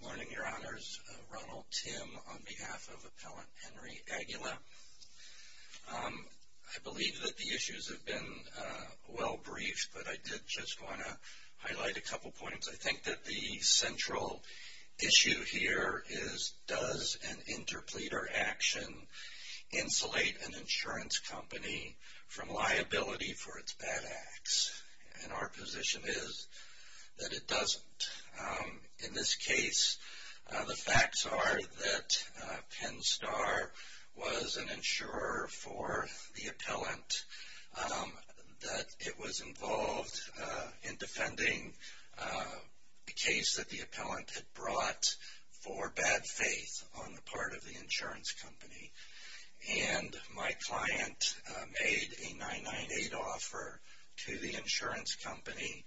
Good morning, Your Honors. Ronald Timm on behalf of Appellant Henry Aguila. I believe that the issues have been well briefed, but I did just want to highlight a couple points. I think that the central issue here is, does an interpleader action insulate an insurance company from liability for its bad acts? And our position is that it doesn't. In this case, the facts are that Penn Star was an insurer for the appellant, that it was involved in defending a case that the appellant had brought for bad faith on the part of the insurance company. And my client made a 998 offer to the insurance company,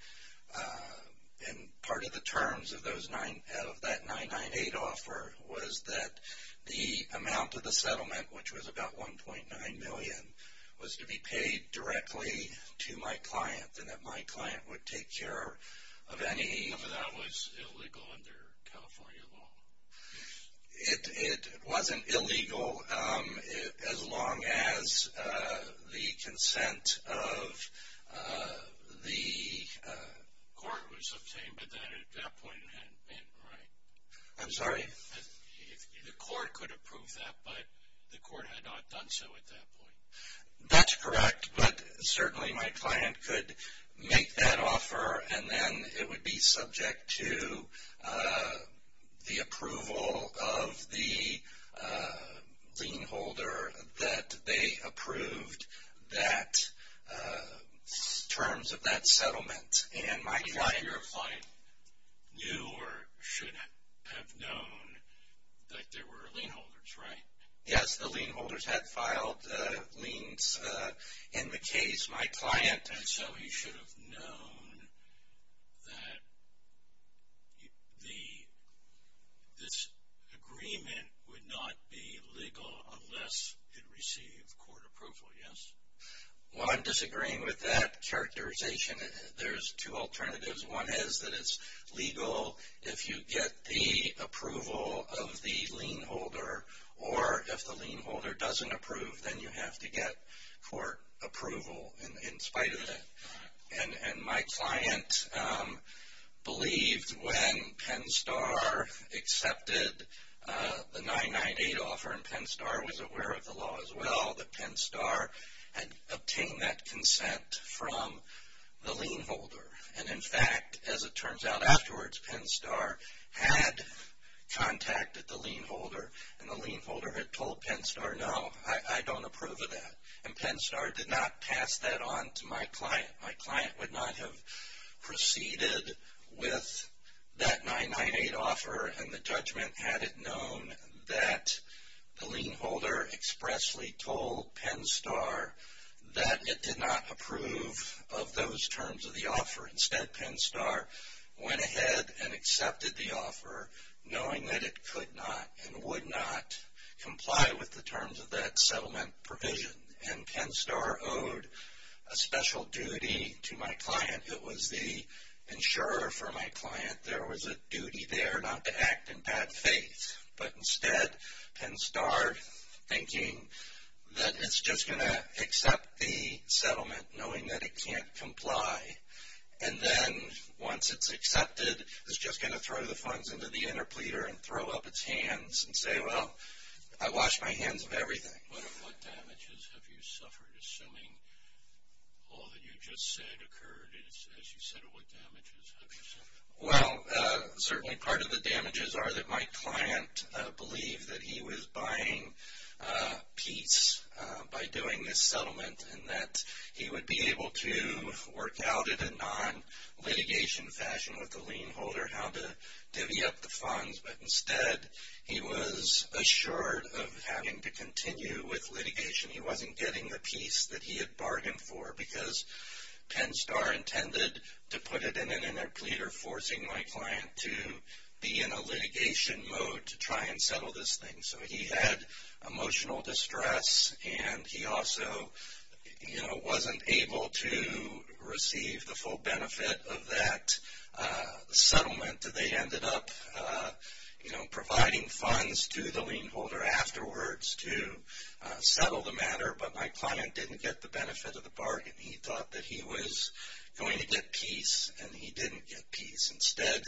and part of the terms of that 998 offer was that the amount of the settlement, which was about $1.9 million, was to be paid directly to my client, and that my client would take care of any... So that was illegal under California law? It wasn't illegal as long as the consent of the... The court was obtained, but at that point it hadn't been, right? I'm sorry? The court could approve that, but the court had not done so at that point. That's correct, but certainly my client could make that offer, and then it would be subject to the approval of the lien holder that they approved that terms of that settlement. And my client... Your client knew or should have known that there were lien holders, right? Yes, the lien holders had filed liens in the case. My client... And so he should have known that this agreement would not be legal unless it received court approval, yes? Well, I'm disagreeing with that characterization. There's two alternatives. One is that it's legal if you get the approval of the lien holder, or if the lien holder doesn't approve, then you have to get court approval in spite of that. And my client believed when Penn Star accepted the 998 offer, and Penn Star was aware of the law as well, that Penn Star had obtained that consent from the lien holder. And in fact, as it turns out afterwards, Penn Star had contacted the lien holder, and the lien holder had told Penn Star, no, I don't approve of that. And Penn Star did not pass that on to my client. My client would not have proceeded with that 998 offer, and the judgment had it known that the lien holder expressly told Penn Star that it did not approve of those terms of the offer. Instead, Penn Star went ahead and accepted the offer, knowing that it could not and would not comply with the terms of that settlement provision. And Penn Star owed a special duty to my client. It was the insurer for my client. There was a duty there not to act in bad faith. But instead, Penn Star, thinking that it's just going to accept the settlement, knowing that it can't comply. And then, once it's accepted, it's just going to throw the funds into the interpleater and throw up its hands and say, well, I washed my hands of everything. What damages have you suffered, assuming all that you just said occurred? As you said, what damages have you suffered? Well, certainly part of the damages are that my client believed that he was buying peace by doing this settlement, and that he would be able to work out in a non-litigation fashion with the lien holder how to divvy up the funds. But instead, he was assured of having to continue with litigation. He wasn't getting the peace that he had bargained for because Penn Star intended to put it in an interpleater, forcing my client to be in a litigation mode to try and settle this thing. So he had emotional distress, and he also wasn't able to receive the full benefit of that settlement. They ended up, you know, providing funds to the lien holder afterwards to settle the matter, but my client didn't get the benefit of the bargain. He thought that he was going to get peace, and he didn't get peace. Instead,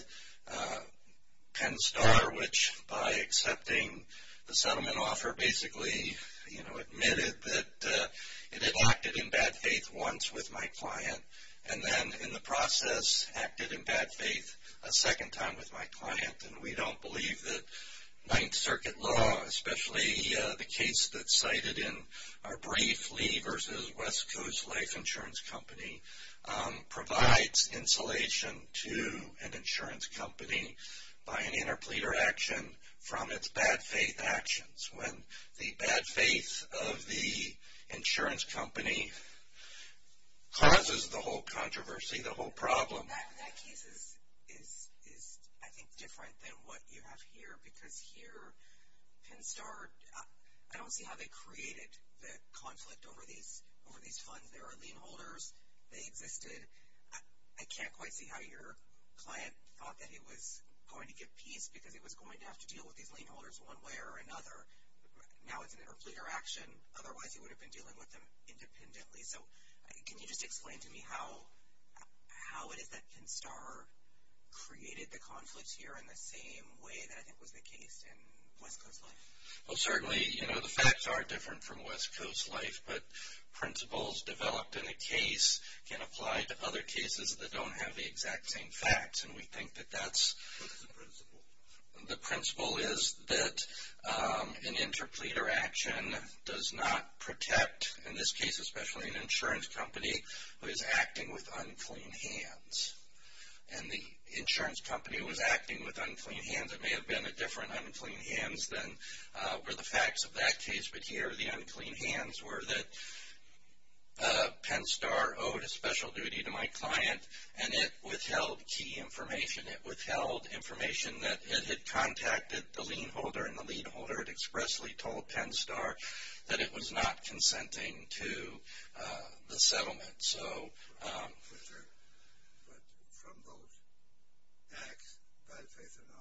Penn Star, which by accepting the settlement offer, basically, you know, admitted that it had acted in bad faith once with my client, and then in the process acted in bad faith a second time with my client. And we don't believe that Ninth Circuit law, especially the case that's cited in our brief, Lee v. West Coast Life Insurance Company, provides insulation to an insurance company by an interpleater action from its bad faith actions. When the bad faith of the insurance company causes the whole controversy, the whole problem. That case is, I think, different than what you have here because here, Penn Star, I don't see how they created the conflict over these funds. There are lien holders. They existed. I can't quite see how your client thought that he was going to get peace because he was going to have to deal with these lien holders one way or another. Now it's an interpleater action. Otherwise, he would have been dealing with them independently. So can you just explain to me how it is that Penn Star created the conflict here in the same way that I think was the case in West Coast Life? Well, certainly, you know, the facts are different from West Coast Life, but principles developed in a case can apply to other cases that don't have the exact same facts, and we think that that's the principle is that an interpleater action does not protect, in this case especially, an insurance company who is acting with unclean hands. And the insurance company was acting with unclean hands. It may have been a different unclean hands than were the facts of that case, but here the unclean hands were that Penn Star owed a special duty to my client, and it withheld key information. It withheld information that it had contacted the lien holder, and the lien holder had expressly told Penn Star that it was not consenting to the settlement. But from those acts, by the faith or not,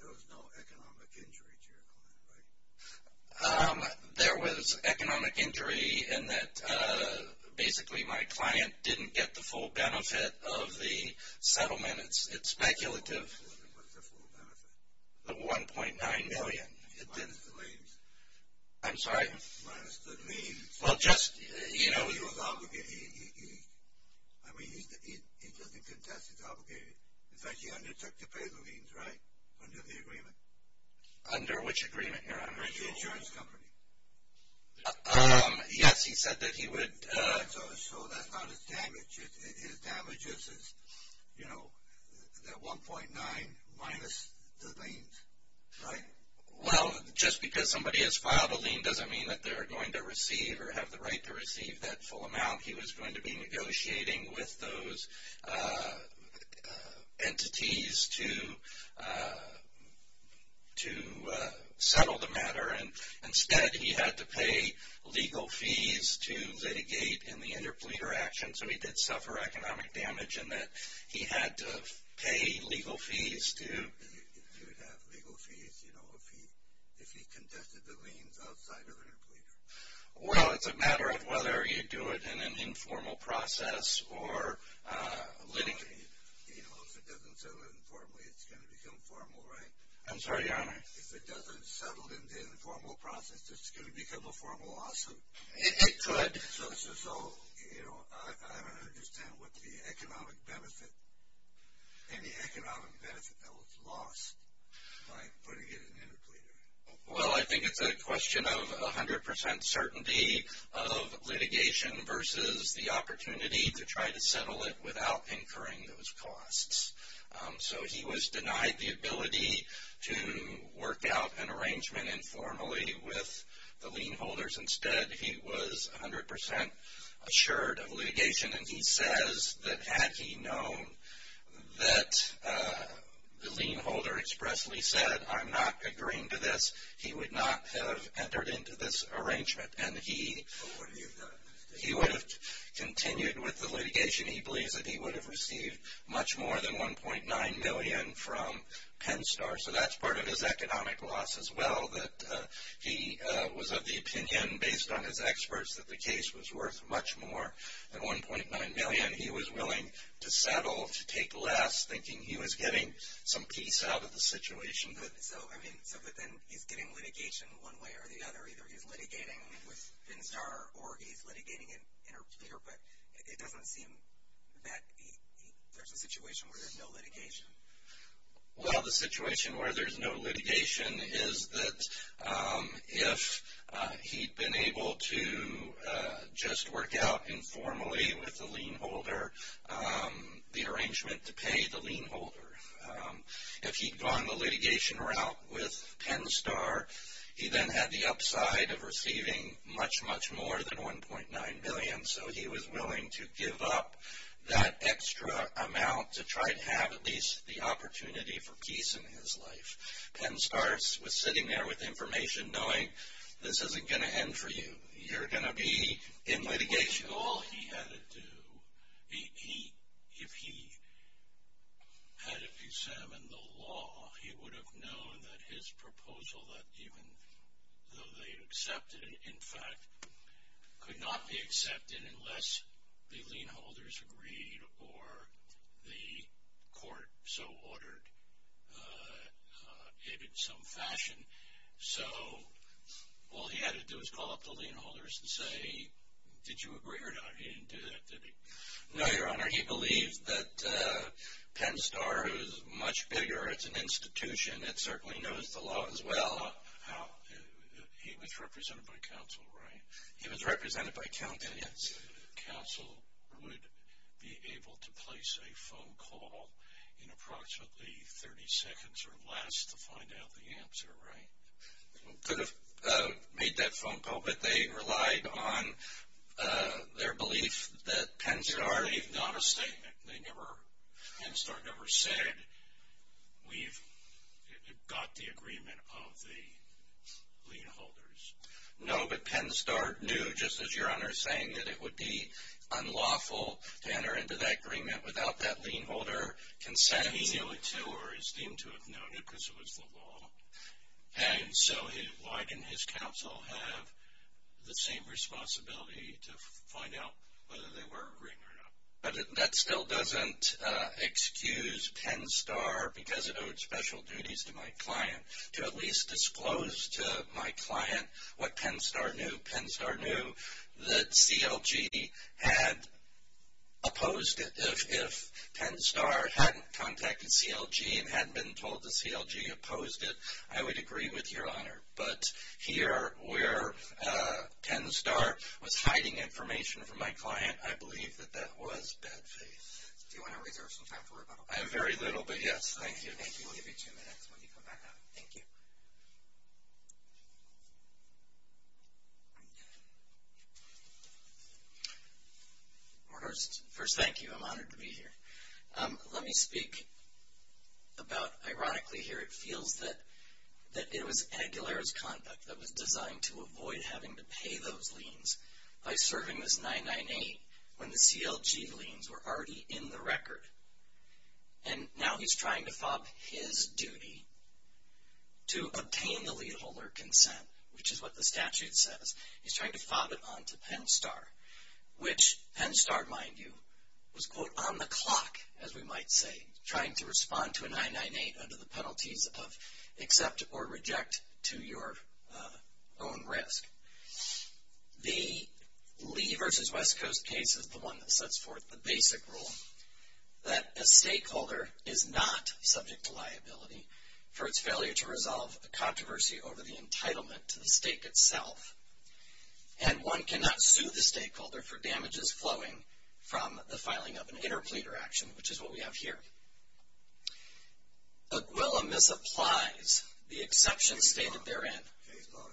there was no economic injury to your client, right? There was economic injury in that basically my client didn't get the full benefit of the settlement. It's speculative. What's the full benefit? The $1.9 million. Minus the liens. I'm sorry? Minus the liens. Well, just, you know. No, he was obligated. I mean, he doesn't contest, he's obligated. In fact, he undertook to pay the liens, right, under the agreement? Under which agreement here? The insurance company. Yes, he said that he would. So that's not his damage. His damage is, you know, that $1.9 million minus the liens, right? Well, just because somebody has filed a lien doesn't mean that they're going to receive or have the right to receive that full amount. He was going to be negotiating with those entities to settle the matter, and instead he had to pay legal fees to litigate in the interpleader action. So he did suffer economic damage in that he had to pay legal fees to... He would have legal fees, you know, if he contested the liens outside of interpleader. Well, it's a matter of whether you do it in an informal process or litigate. You know, if it doesn't settle informally, it's going to become formal, right? I'm sorry, Your Honor. If it doesn't settle in the informal process, it's going to become a formal lawsuit. It could. So, you know, I don't understand what the economic benefit, any economic benefit that was lost by putting it in interpleader. Well, I think it's a question of 100% certainty of litigation versus the opportunity to try to settle it without incurring those costs. So he was denied the ability to work out an arrangement informally with the lien holders. Instead, he was 100% assured of litigation, and he says that had he known that the lien holder expressly said, I'm not agreeing to this, he would not have entered into this arrangement, and he would have continued with the litigation. He believes that he would have received much more than $1.9 million from Penn Star. So that's part of his economic loss as well, that he was of the opinion based on his experts that the case was worth much more than $1.9 million he was willing to settle, to take less, thinking he was getting some peace out of the situation. So, I mean, so then he's getting litigation one way or the other. Either he's litigating with Penn Star or he's litigating interpleader, but it doesn't seem that there's a situation where there's no litigation. Well, the situation where there's no litigation is that if he'd been able to just work out informally with the lien holder, the arrangement to pay the lien holder, if he'd gone the litigation route with Penn Star, he then had the upside of receiving much, much more than $1.9 million. So he was willing to give up that extra amount to try to have at least the opportunity for peace in his life. Penn Star was sitting there with information, knowing this isn't going to end for you. You're going to be in litigation. All he had to do, if he had examined the law, he would have known that his proposal, even though they accepted it, in fact, could not be accepted unless the lien holders agreed or the court so ordered it in some fashion. So all he had to do was call up the lien holders and say, did you agree or not? He didn't do that, did he? No, Your Honor. He believes that Penn Star is much bigger. It's an institution. It certainly knows the law as well. He was represented by counsel, right? He was represented by counsel, yes. Counsel would be able to place a phone call in approximately 30 seconds or less to find out the answer, right? Could have made that phone call, but they relied on their belief that Penn Star They've not a statement. They never, Penn Star never said, we've got the agreement of the lien holders. No, but Penn Star knew, just as Your Honor is saying, that it would be unlawful to enter into that agreement without that lien holder consent. He knew it too, or it seemed to have known it because it was the law. And so why didn't his counsel have the same responsibility to find out whether they were agreeing or not? That still doesn't excuse Penn Star because it owed special duties to my client to at least disclose to my client what Penn Star knew. Penn Star knew that CLG had opposed it. If Penn Star hadn't contacted CLG and hadn't been told that CLG opposed it, I would agree with Your Honor. But here where Penn Star was hiding information from my client, I believe that that was bad faith. Do you want to reserve some time for rebuttal? I have very little, but yes. Thank you. We'll give you two minutes when you come back up. Thank you. First, thank you. I'm honored to be here. Let me speak about, ironically here, it feels that it was Aguilera's conduct that was designed to avoid having to pay those liens by serving this 998 when the CLG liens were already in the record. And now he's trying to fob his duty to obtain the lien holder consent, which is what the statute says. He's trying to fob it on to Penn Star, which Penn Star, mind you, was, quote, on the clock, as we might say, trying to respond to a 998 under the penalties of accept or reject to your own risk. The Lee v. West Coast case is the one that sets forth the basic rule that a stakeholder is not subject to liability for its failure to resolve a controversy over the entitlement to the stake itself, and one cannot sue the stakeholder for damages flowing from the filing of an interpleader action, which is what we have here. Aguilera misapplies the exception stated therein. Case law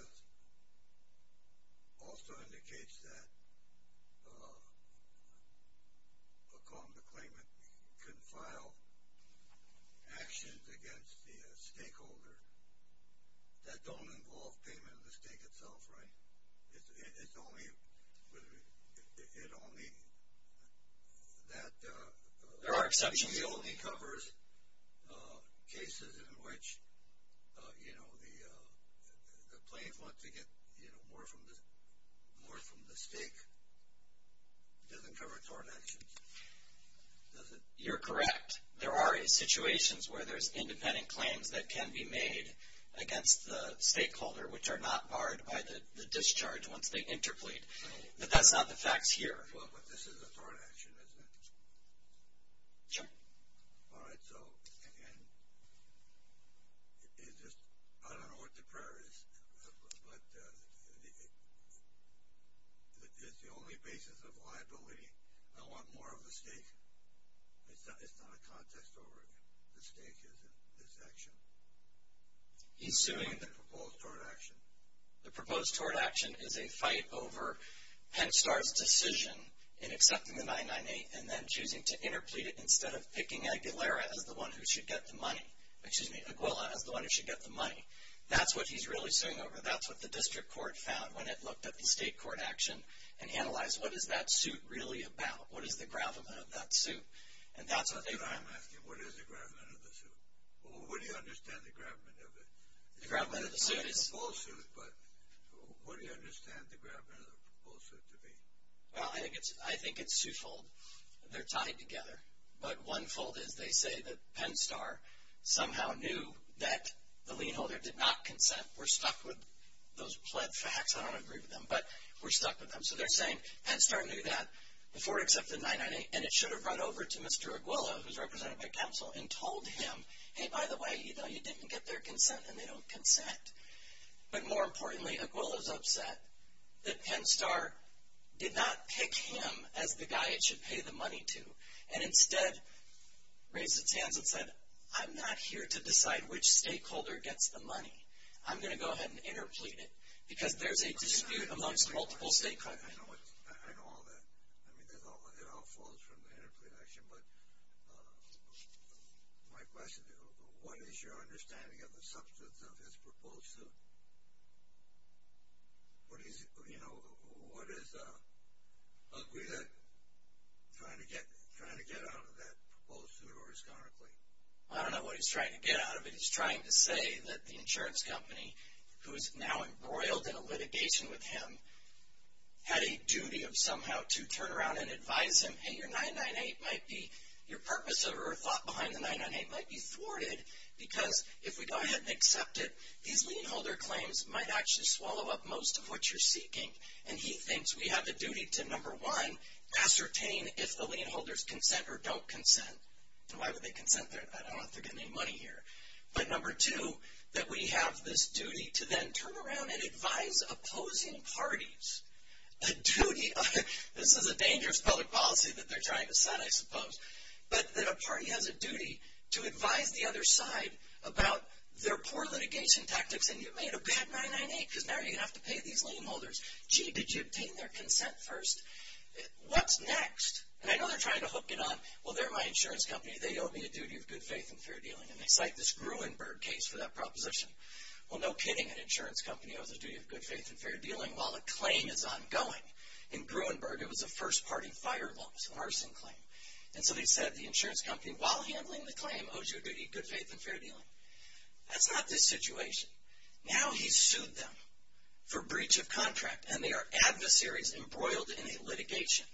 also indicates that a claimant can file actions against the stakeholder that don't involve payment of the stake itself, right? There are exceptions. It only covers cases in which the plaintiff wants to get more from the stake. It doesn't cover tort actions, does it? You're correct. There are situations where there's independent claims that can be made against the stakeholder, which are not barred by the discharge once they interplead, but that's not the facts here. But this is a tort action, isn't it? Sure. All right. So again, I don't know what the prayer is, but it's the only basis of liability. I want more of the stake. It's not a context over the stake, is it, this action? He's suing. The proposed tort action. The proposed tort action is a fight over Penn Star's decision in accepting the 998 and then choosing to interplead it instead of picking Aguilera as the one who should get the money. Excuse me, Aguilera as the one who should get the money. That's what he's really suing over. That's what the district court found when it looked at the state court action and analyzed what is that suit really about, what is the gravamen of that suit, and that's what they found. I'm asking, what is the gravamen of the suit? Or would he understand the gravamen of it? The gravamen of the suit is... It's not a lawsuit, but would he understand the gravamen of the lawsuit to be? Well, I think it's twofold. They're tied together. But one fold is they say that Penn Star somehow knew that the lien holder did not consent. We're stuck with those pled facts. I don't agree with them, but we're stuck with them. So they're saying Penn Star knew that before it accepted 998, and it should have run over to Mr. Aguilera, who's represented by counsel, and told him, hey, by the way, you know, you didn't get their consent, and they don't consent. But more importantly, Aguilera's upset that Penn Star did not pick him as the guy it should pay the money to, and instead raised its hands and said, I'm not here to decide which stakeholder gets the money. I'm going to go ahead and interplead it because there's a dispute amongst multiple stakeholders. I know all that. I mean, it all falls from the interplead action, but my question, what is your understanding of the substance of his proposed suit? You know, what is Aguilera trying to get out of that proposed suit or his counterclaim? I don't know what he's trying to get out of it. He's trying to say that the insurance company, who is now embroiled in a litigation with him, had a duty of somehow to turn around and advise him, hey, your 998 might be, your purpose or thought behind the 998 might be thwarted because if we go ahead and accept it, these lien holder claims might actually swallow up most of what you're seeking. And he thinks we have the duty to, number one, ascertain if the lien holders consent or don't consent. And why would they consent? I don't know if they're getting any money here. But number two, that we have this duty to then turn around and advise opposing parties. A duty, this is a dangerous public policy that they're trying to set, I suppose, but that a party has a duty to advise the other side about their poor litigation tactics and you made a bad 998 because now you have to pay these lien holders. Gee, did you obtain their consent first? What's next? And I know they're trying to hook it on. Well, they're my insurance company. They owe me a duty of good faith and fair dealing. And they cite this Gruenberg case for that proposition. Well, no kidding, an insurance company owes a duty of good faith and fair dealing while a claim is ongoing. In Gruenberg, it was a first-party fire laws, a harsing claim. And so they said the insurance company, while handling the claim, owes you a duty of good faith and fair dealing. That's not this situation. Now he's sued them for breach of contract and they are adversaries embroiled in a litigation.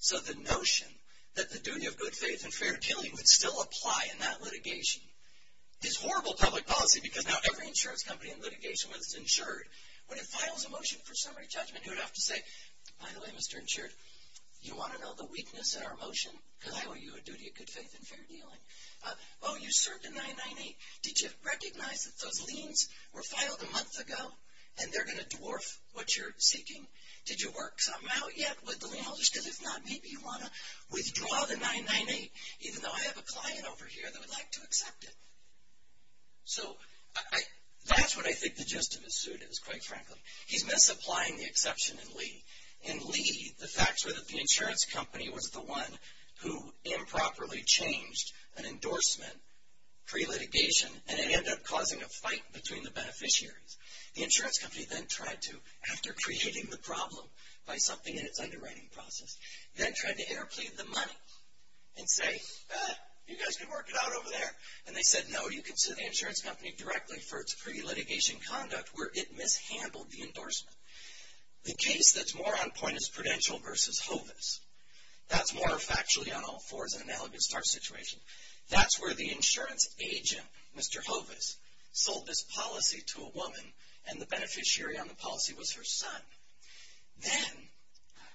So the notion that the duty of good faith and fair dealing would still apply in that litigation is horrible public policy because now every insurance company in litigation was insured. When it files a motion for summary judgment, you would have to say, by the way, Mr. Insured, you want to know the weakness in our motion? Because I owe you a duty of good faith and fair dealing. Oh, you served a 998. Did you recognize that those liens were filed a month ago and they're going to dwarf what you're seeking? Did you work something out yet with the lien holders? Because if not, maybe you want to withdraw the 998, even though I have a client over here that would like to accept it. So that's what I think the gist of his suit is, quite frankly. He's misapplying the exception in Lee. In Lee, the facts were that the insurance company was the one who improperly changed an endorsement pre-litigation and it ended up causing a fight between the beneficiaries. The insurance company then tried to, after creating the problem by something in its underwriting process, then tried to interplead the money and say, you guys can work it out over there. And they said, no, you can sue the insurance company directly for its pre-litigation conduct where it mishandled the endorsement. The case that's more on point is Prudential v. Hovis. That's more factually on all fours and analogous to our situation. That's where the insurance agent, Mr. Hovis, sold this policy to a woman and the beneficiary on the policy was her son. Then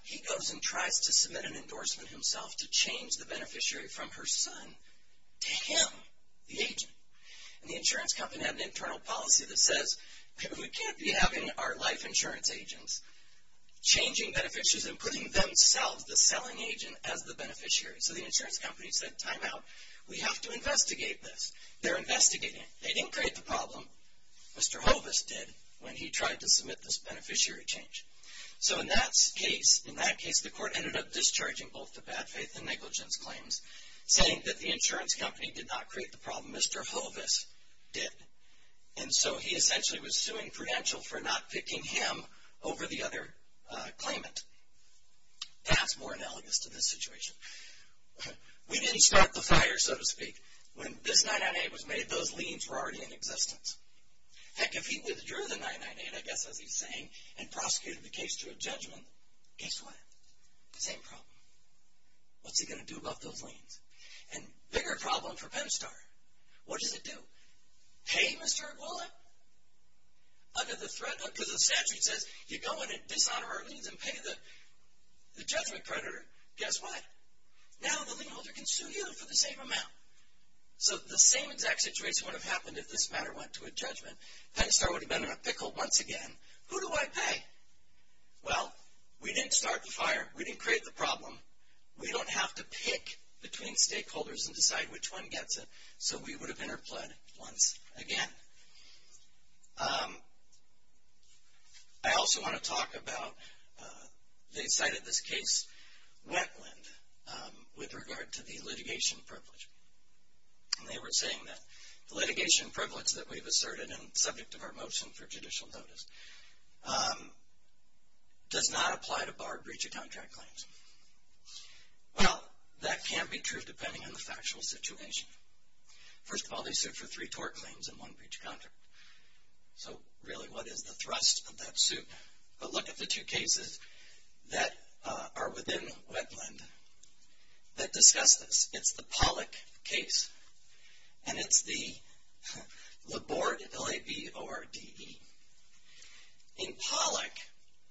he goes and tries to submit an endorsement himself to change the beneficiary from her son to him, the agent. And the insurance company had an internal policy that says, we can't be having our life insurance agents changing beneficiaries and putting themselves, the selling agent, as the beneficiary. So the insurance company said, time out. We have to investigate this. They're investigating. They didn't create the problem. Mr. Hovis did when he tried to submit this beneficiary change. So in that case, the court ended up discharging both the bad faith and negligence claims, saying that the insurance company did not create the problem. Mr. Hovis did. And so he essentially was suing Prudential for not picking him over the other claimant. That's more analogous to this situation. We didn't start the fire, so to speak. When this 998 was made, those liens were already in existence. Heck, if he withdrew the 998, I guess that's what he's saying, and prosecuted the case to a judgment, case won. Same problem. What's he going to do about those liens? And bigger problem for Pemstar. What does it do? Pay Mr. Goulet? Under the statute, it says you go in and dishonor our liens and pay the judgment predator. Guess what? Now the lien holder can sue you for the same amount. So the same exact situation would have happened if this matter went to a judgment. Pemstar would have been in a pickle once again. Who do I pay? Well, we didn't start the fire. We didn't create the problem. We don't have to pick between stakeholders and decide which one gets it. So we would have interpled once again. I also want to talk about, they cited this case, Wetland, with regard to the litigation privilege. And they were saying that the litigation privilege that we've asserted and subject of our motion for judicial notice does not apply to bar breach of contract claims. Well, that can be true depending on the factual situation. First of all, they sued for three tort claims and one breach of contract. So really, what is the thrust of that suit? But look at the two cases that are within Wetland that discuss this. It's the Pollack case, and it's the Laborde, L-A-B-O-R-D-E. In Pollack,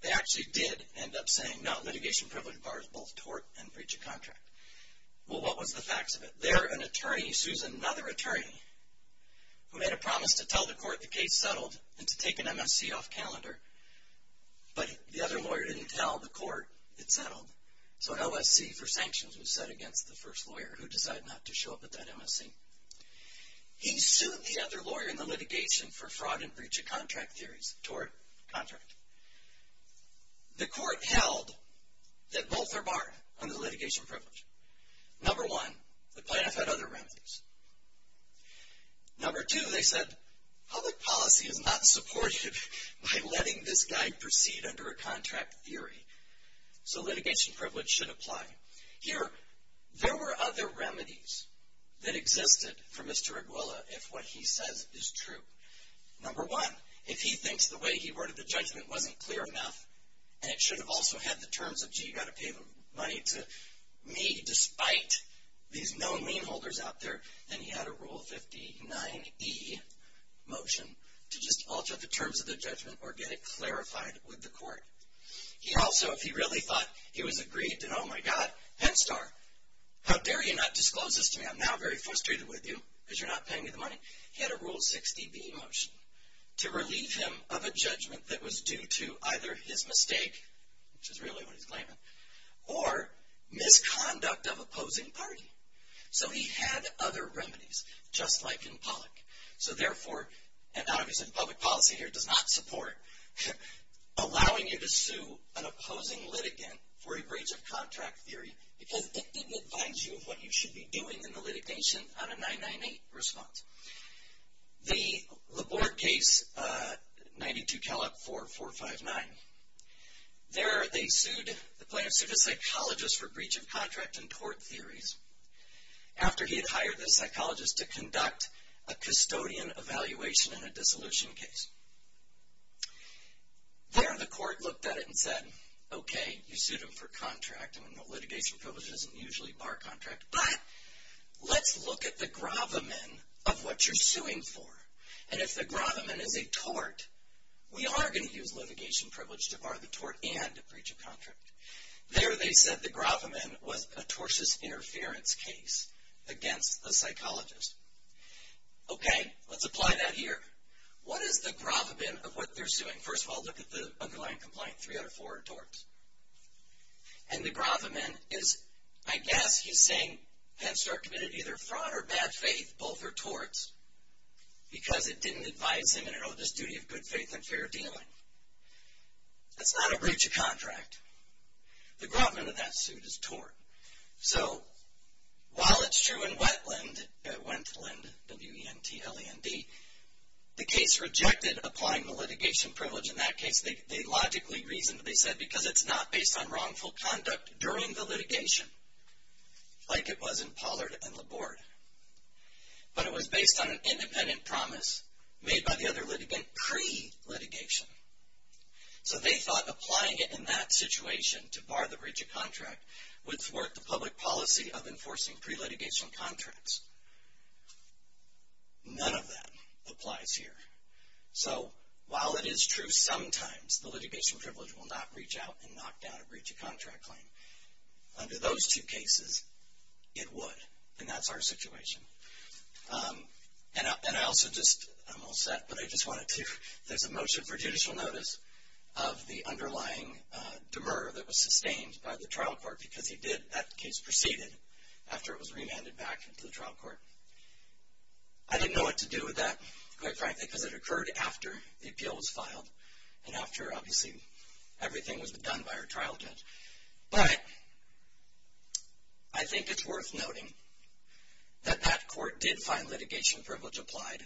they actually did end up saying, no, litigation privilege bars both tort and breach of contract. Well, what was the facts of it? There, an attorney sues another attorney who made a promise to tell the court the case settled and to take an MSC off calendar, but the other lawyer didn't tell the court it settled. So an LSC for sanctions was set against the first lawyer who decided not to show up at that MSC. He sued the other lawyer in the litigation for fraud and breach of contract theories, tort contract. The court held that both are barred under litigation privilege. Number one, the plaintiff had other remedies. Number two, they said public policy is not supportive by letting this guy proceed under a contract theory. So litigation privilege should apply. Here, there were other remedies that existed for Mr. Arguella if what he says is true. Number one, if he thinks the way he worded the judgment wasn't clear enough, and it should have also had the terms of, gee, you've got to pay the money to me, despite these known lien holders out there, then he had a Rule 59E motion to just alter the terms of the judgment or get it clarified with the court. He also, if he really thought he was agreed to, oh, my God, Penn Star, how dare you not disclose this to me. I'm now very frustrated with you because you're not paying me the money. He had a Rule 60B motion to relieve him of a judgment that was due to either his mistake, which is really what he's claiming, or misconduct of opposing party. So he had other remedies, just like in Pollack. So therefore, and obviously the public policy here does not support allowing you to sue an opposing litigant for a breach of contract theory because it didn't advise you of what you should be doing in the litigation on a 998 response. The Laborde case, 92-4459, there they sued a psychologist for breach of contract in court theories. After he had hired the psychologist to conduct a custodian evaluation in a dissolution case. There the court looked at it and said, okay, you sued him for contract. Litigation privilege doesn't usually bar contract, but let's look at the gravamen of what you're suing for. And if the gravamen is a tort, we are going to use litigation privilege to bar the tort and a breach of contract. There they said the gravamen was a tortious interference case against the psychologist. Okay, let's apply that here. What is the gravamen of what they're suing? First of all, look at the underlying complaint, 304, torts. And the gravamen is, I guess he's saying, hence they're committed either fraud or bad faith, both are torts, because it didn't advise him in an oldest duty of good faith and fair dealing. That's not a breach of contract. The gravamen of that suit is tort. So, while it's true in Wentland, W-E-N-T-L-A-N-D, the case rejected applying the litigation privilege in that case. They logically, reasonably said because it's not based on wrongful conduct during the litigation, like it was in Pollard and Laborde. But it was based on an independent promise made by the other litigant pre-litigation. So, they thought applying it in that situation to bar the breach of contract would thwart the public policy of enforcing pre-litigation contracts. None of that applies here. So, while it is true sometimes the litigation privilege will not reach out and knock down a breach of contract claim, under those two cases, it would. And that's our situation. And I also just, I'm all set, but I just wanted to, there's a motion for judicial notice of the underlying demur that was sustained by the trial court because he did, that case proceeded after it was remanded back to the trial court. I didn't know what to do with that, quite frankly, because it occurred after the appeal was filed and after, obviously, everything was done by our trial judge. But I think it's worth noting that that court did find litigation privilege applied,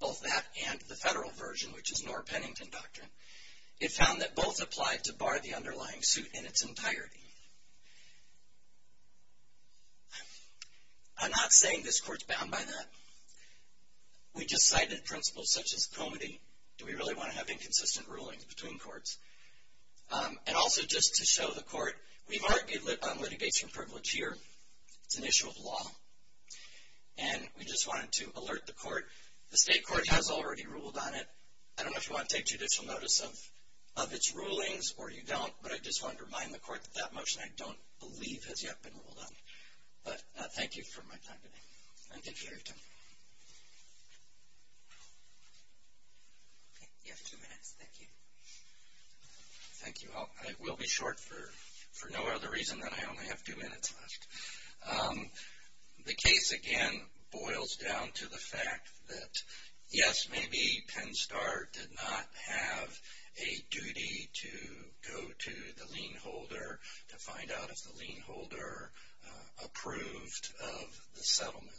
both that and the federal version, which is Knorr-Pennington Doctrine. It found that both applied to bar the underlying suit in its entirety. I'm not saying this court's bound by that. We just cited principles such as comity. Do we really want to have inconsistent rulings between courts? And also, just to show the court, we've argued on litigation privilege here. It's an issue of law. And we just wanted to alert the court. The state court has already ruled on it. I don't know if you want to take judicial notice of its rulings or you don't, but I just want to remind the court that that motion, I don't believe, has yet been ruled on. But thank you for my time today. And thank you for your time. Okay, you have two minutes. Thank you. Thank you. I will be short for no other reason than I only have two minutes left. The case, again, boils down to the fact that, yes, maybe Penn Star did not have a duty to go to the lien holder to find out if the lien holder approved of the settlement.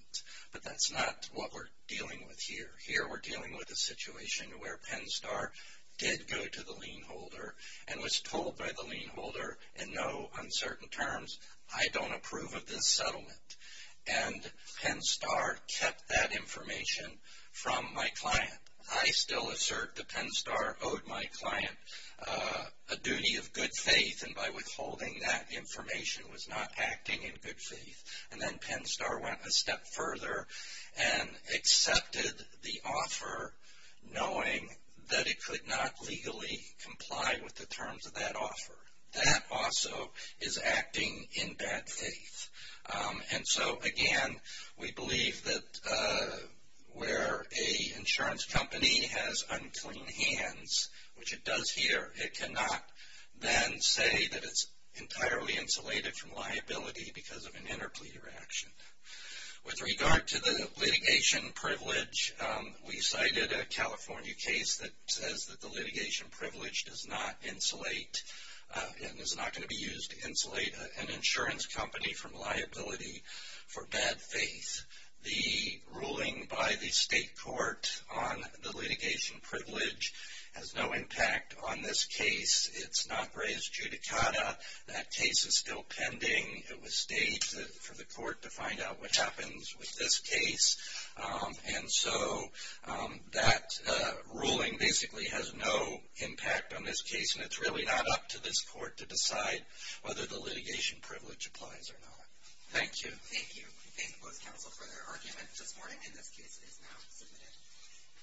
But that's not what we're dealing with here. Here we're dealing with a situation where Penn Star did go to the lien holder and was told by the lien holder in no uncertain terms, I don't approve of this settlement. And Penn Star kept that information from my client. I still assert that Penn Star owed my client a duty of good faith, and by withholding that information was not acting in good faith. And then Penn Star went a step further and accepted the offer knowing that it could not legally comply with the terms of that offer. That also is acting in bad faith. And so, again, we believe that where an insurance company has unclean hands, which it does here, it cannot then say that it's entirely insulated from liability because of an interpleader action. With regard to the litigation privilege, we cited a California case that says that the litigation privilege does not insulate and is not going to be used to insulate an insurance company from liability for bad faith. The ruling by the state court on the litigation privilege has no impact on this case. It's not raised judicata. That case is still pending. It was staged for the court to find out what happens with this case. And so that ruling basically has no impact on this case, and it's really not up to this court to decide whether the litigation privilege applies or not. Thank you. Thank you. Thank both counsel for their arguments this morning, and this case is now submitted.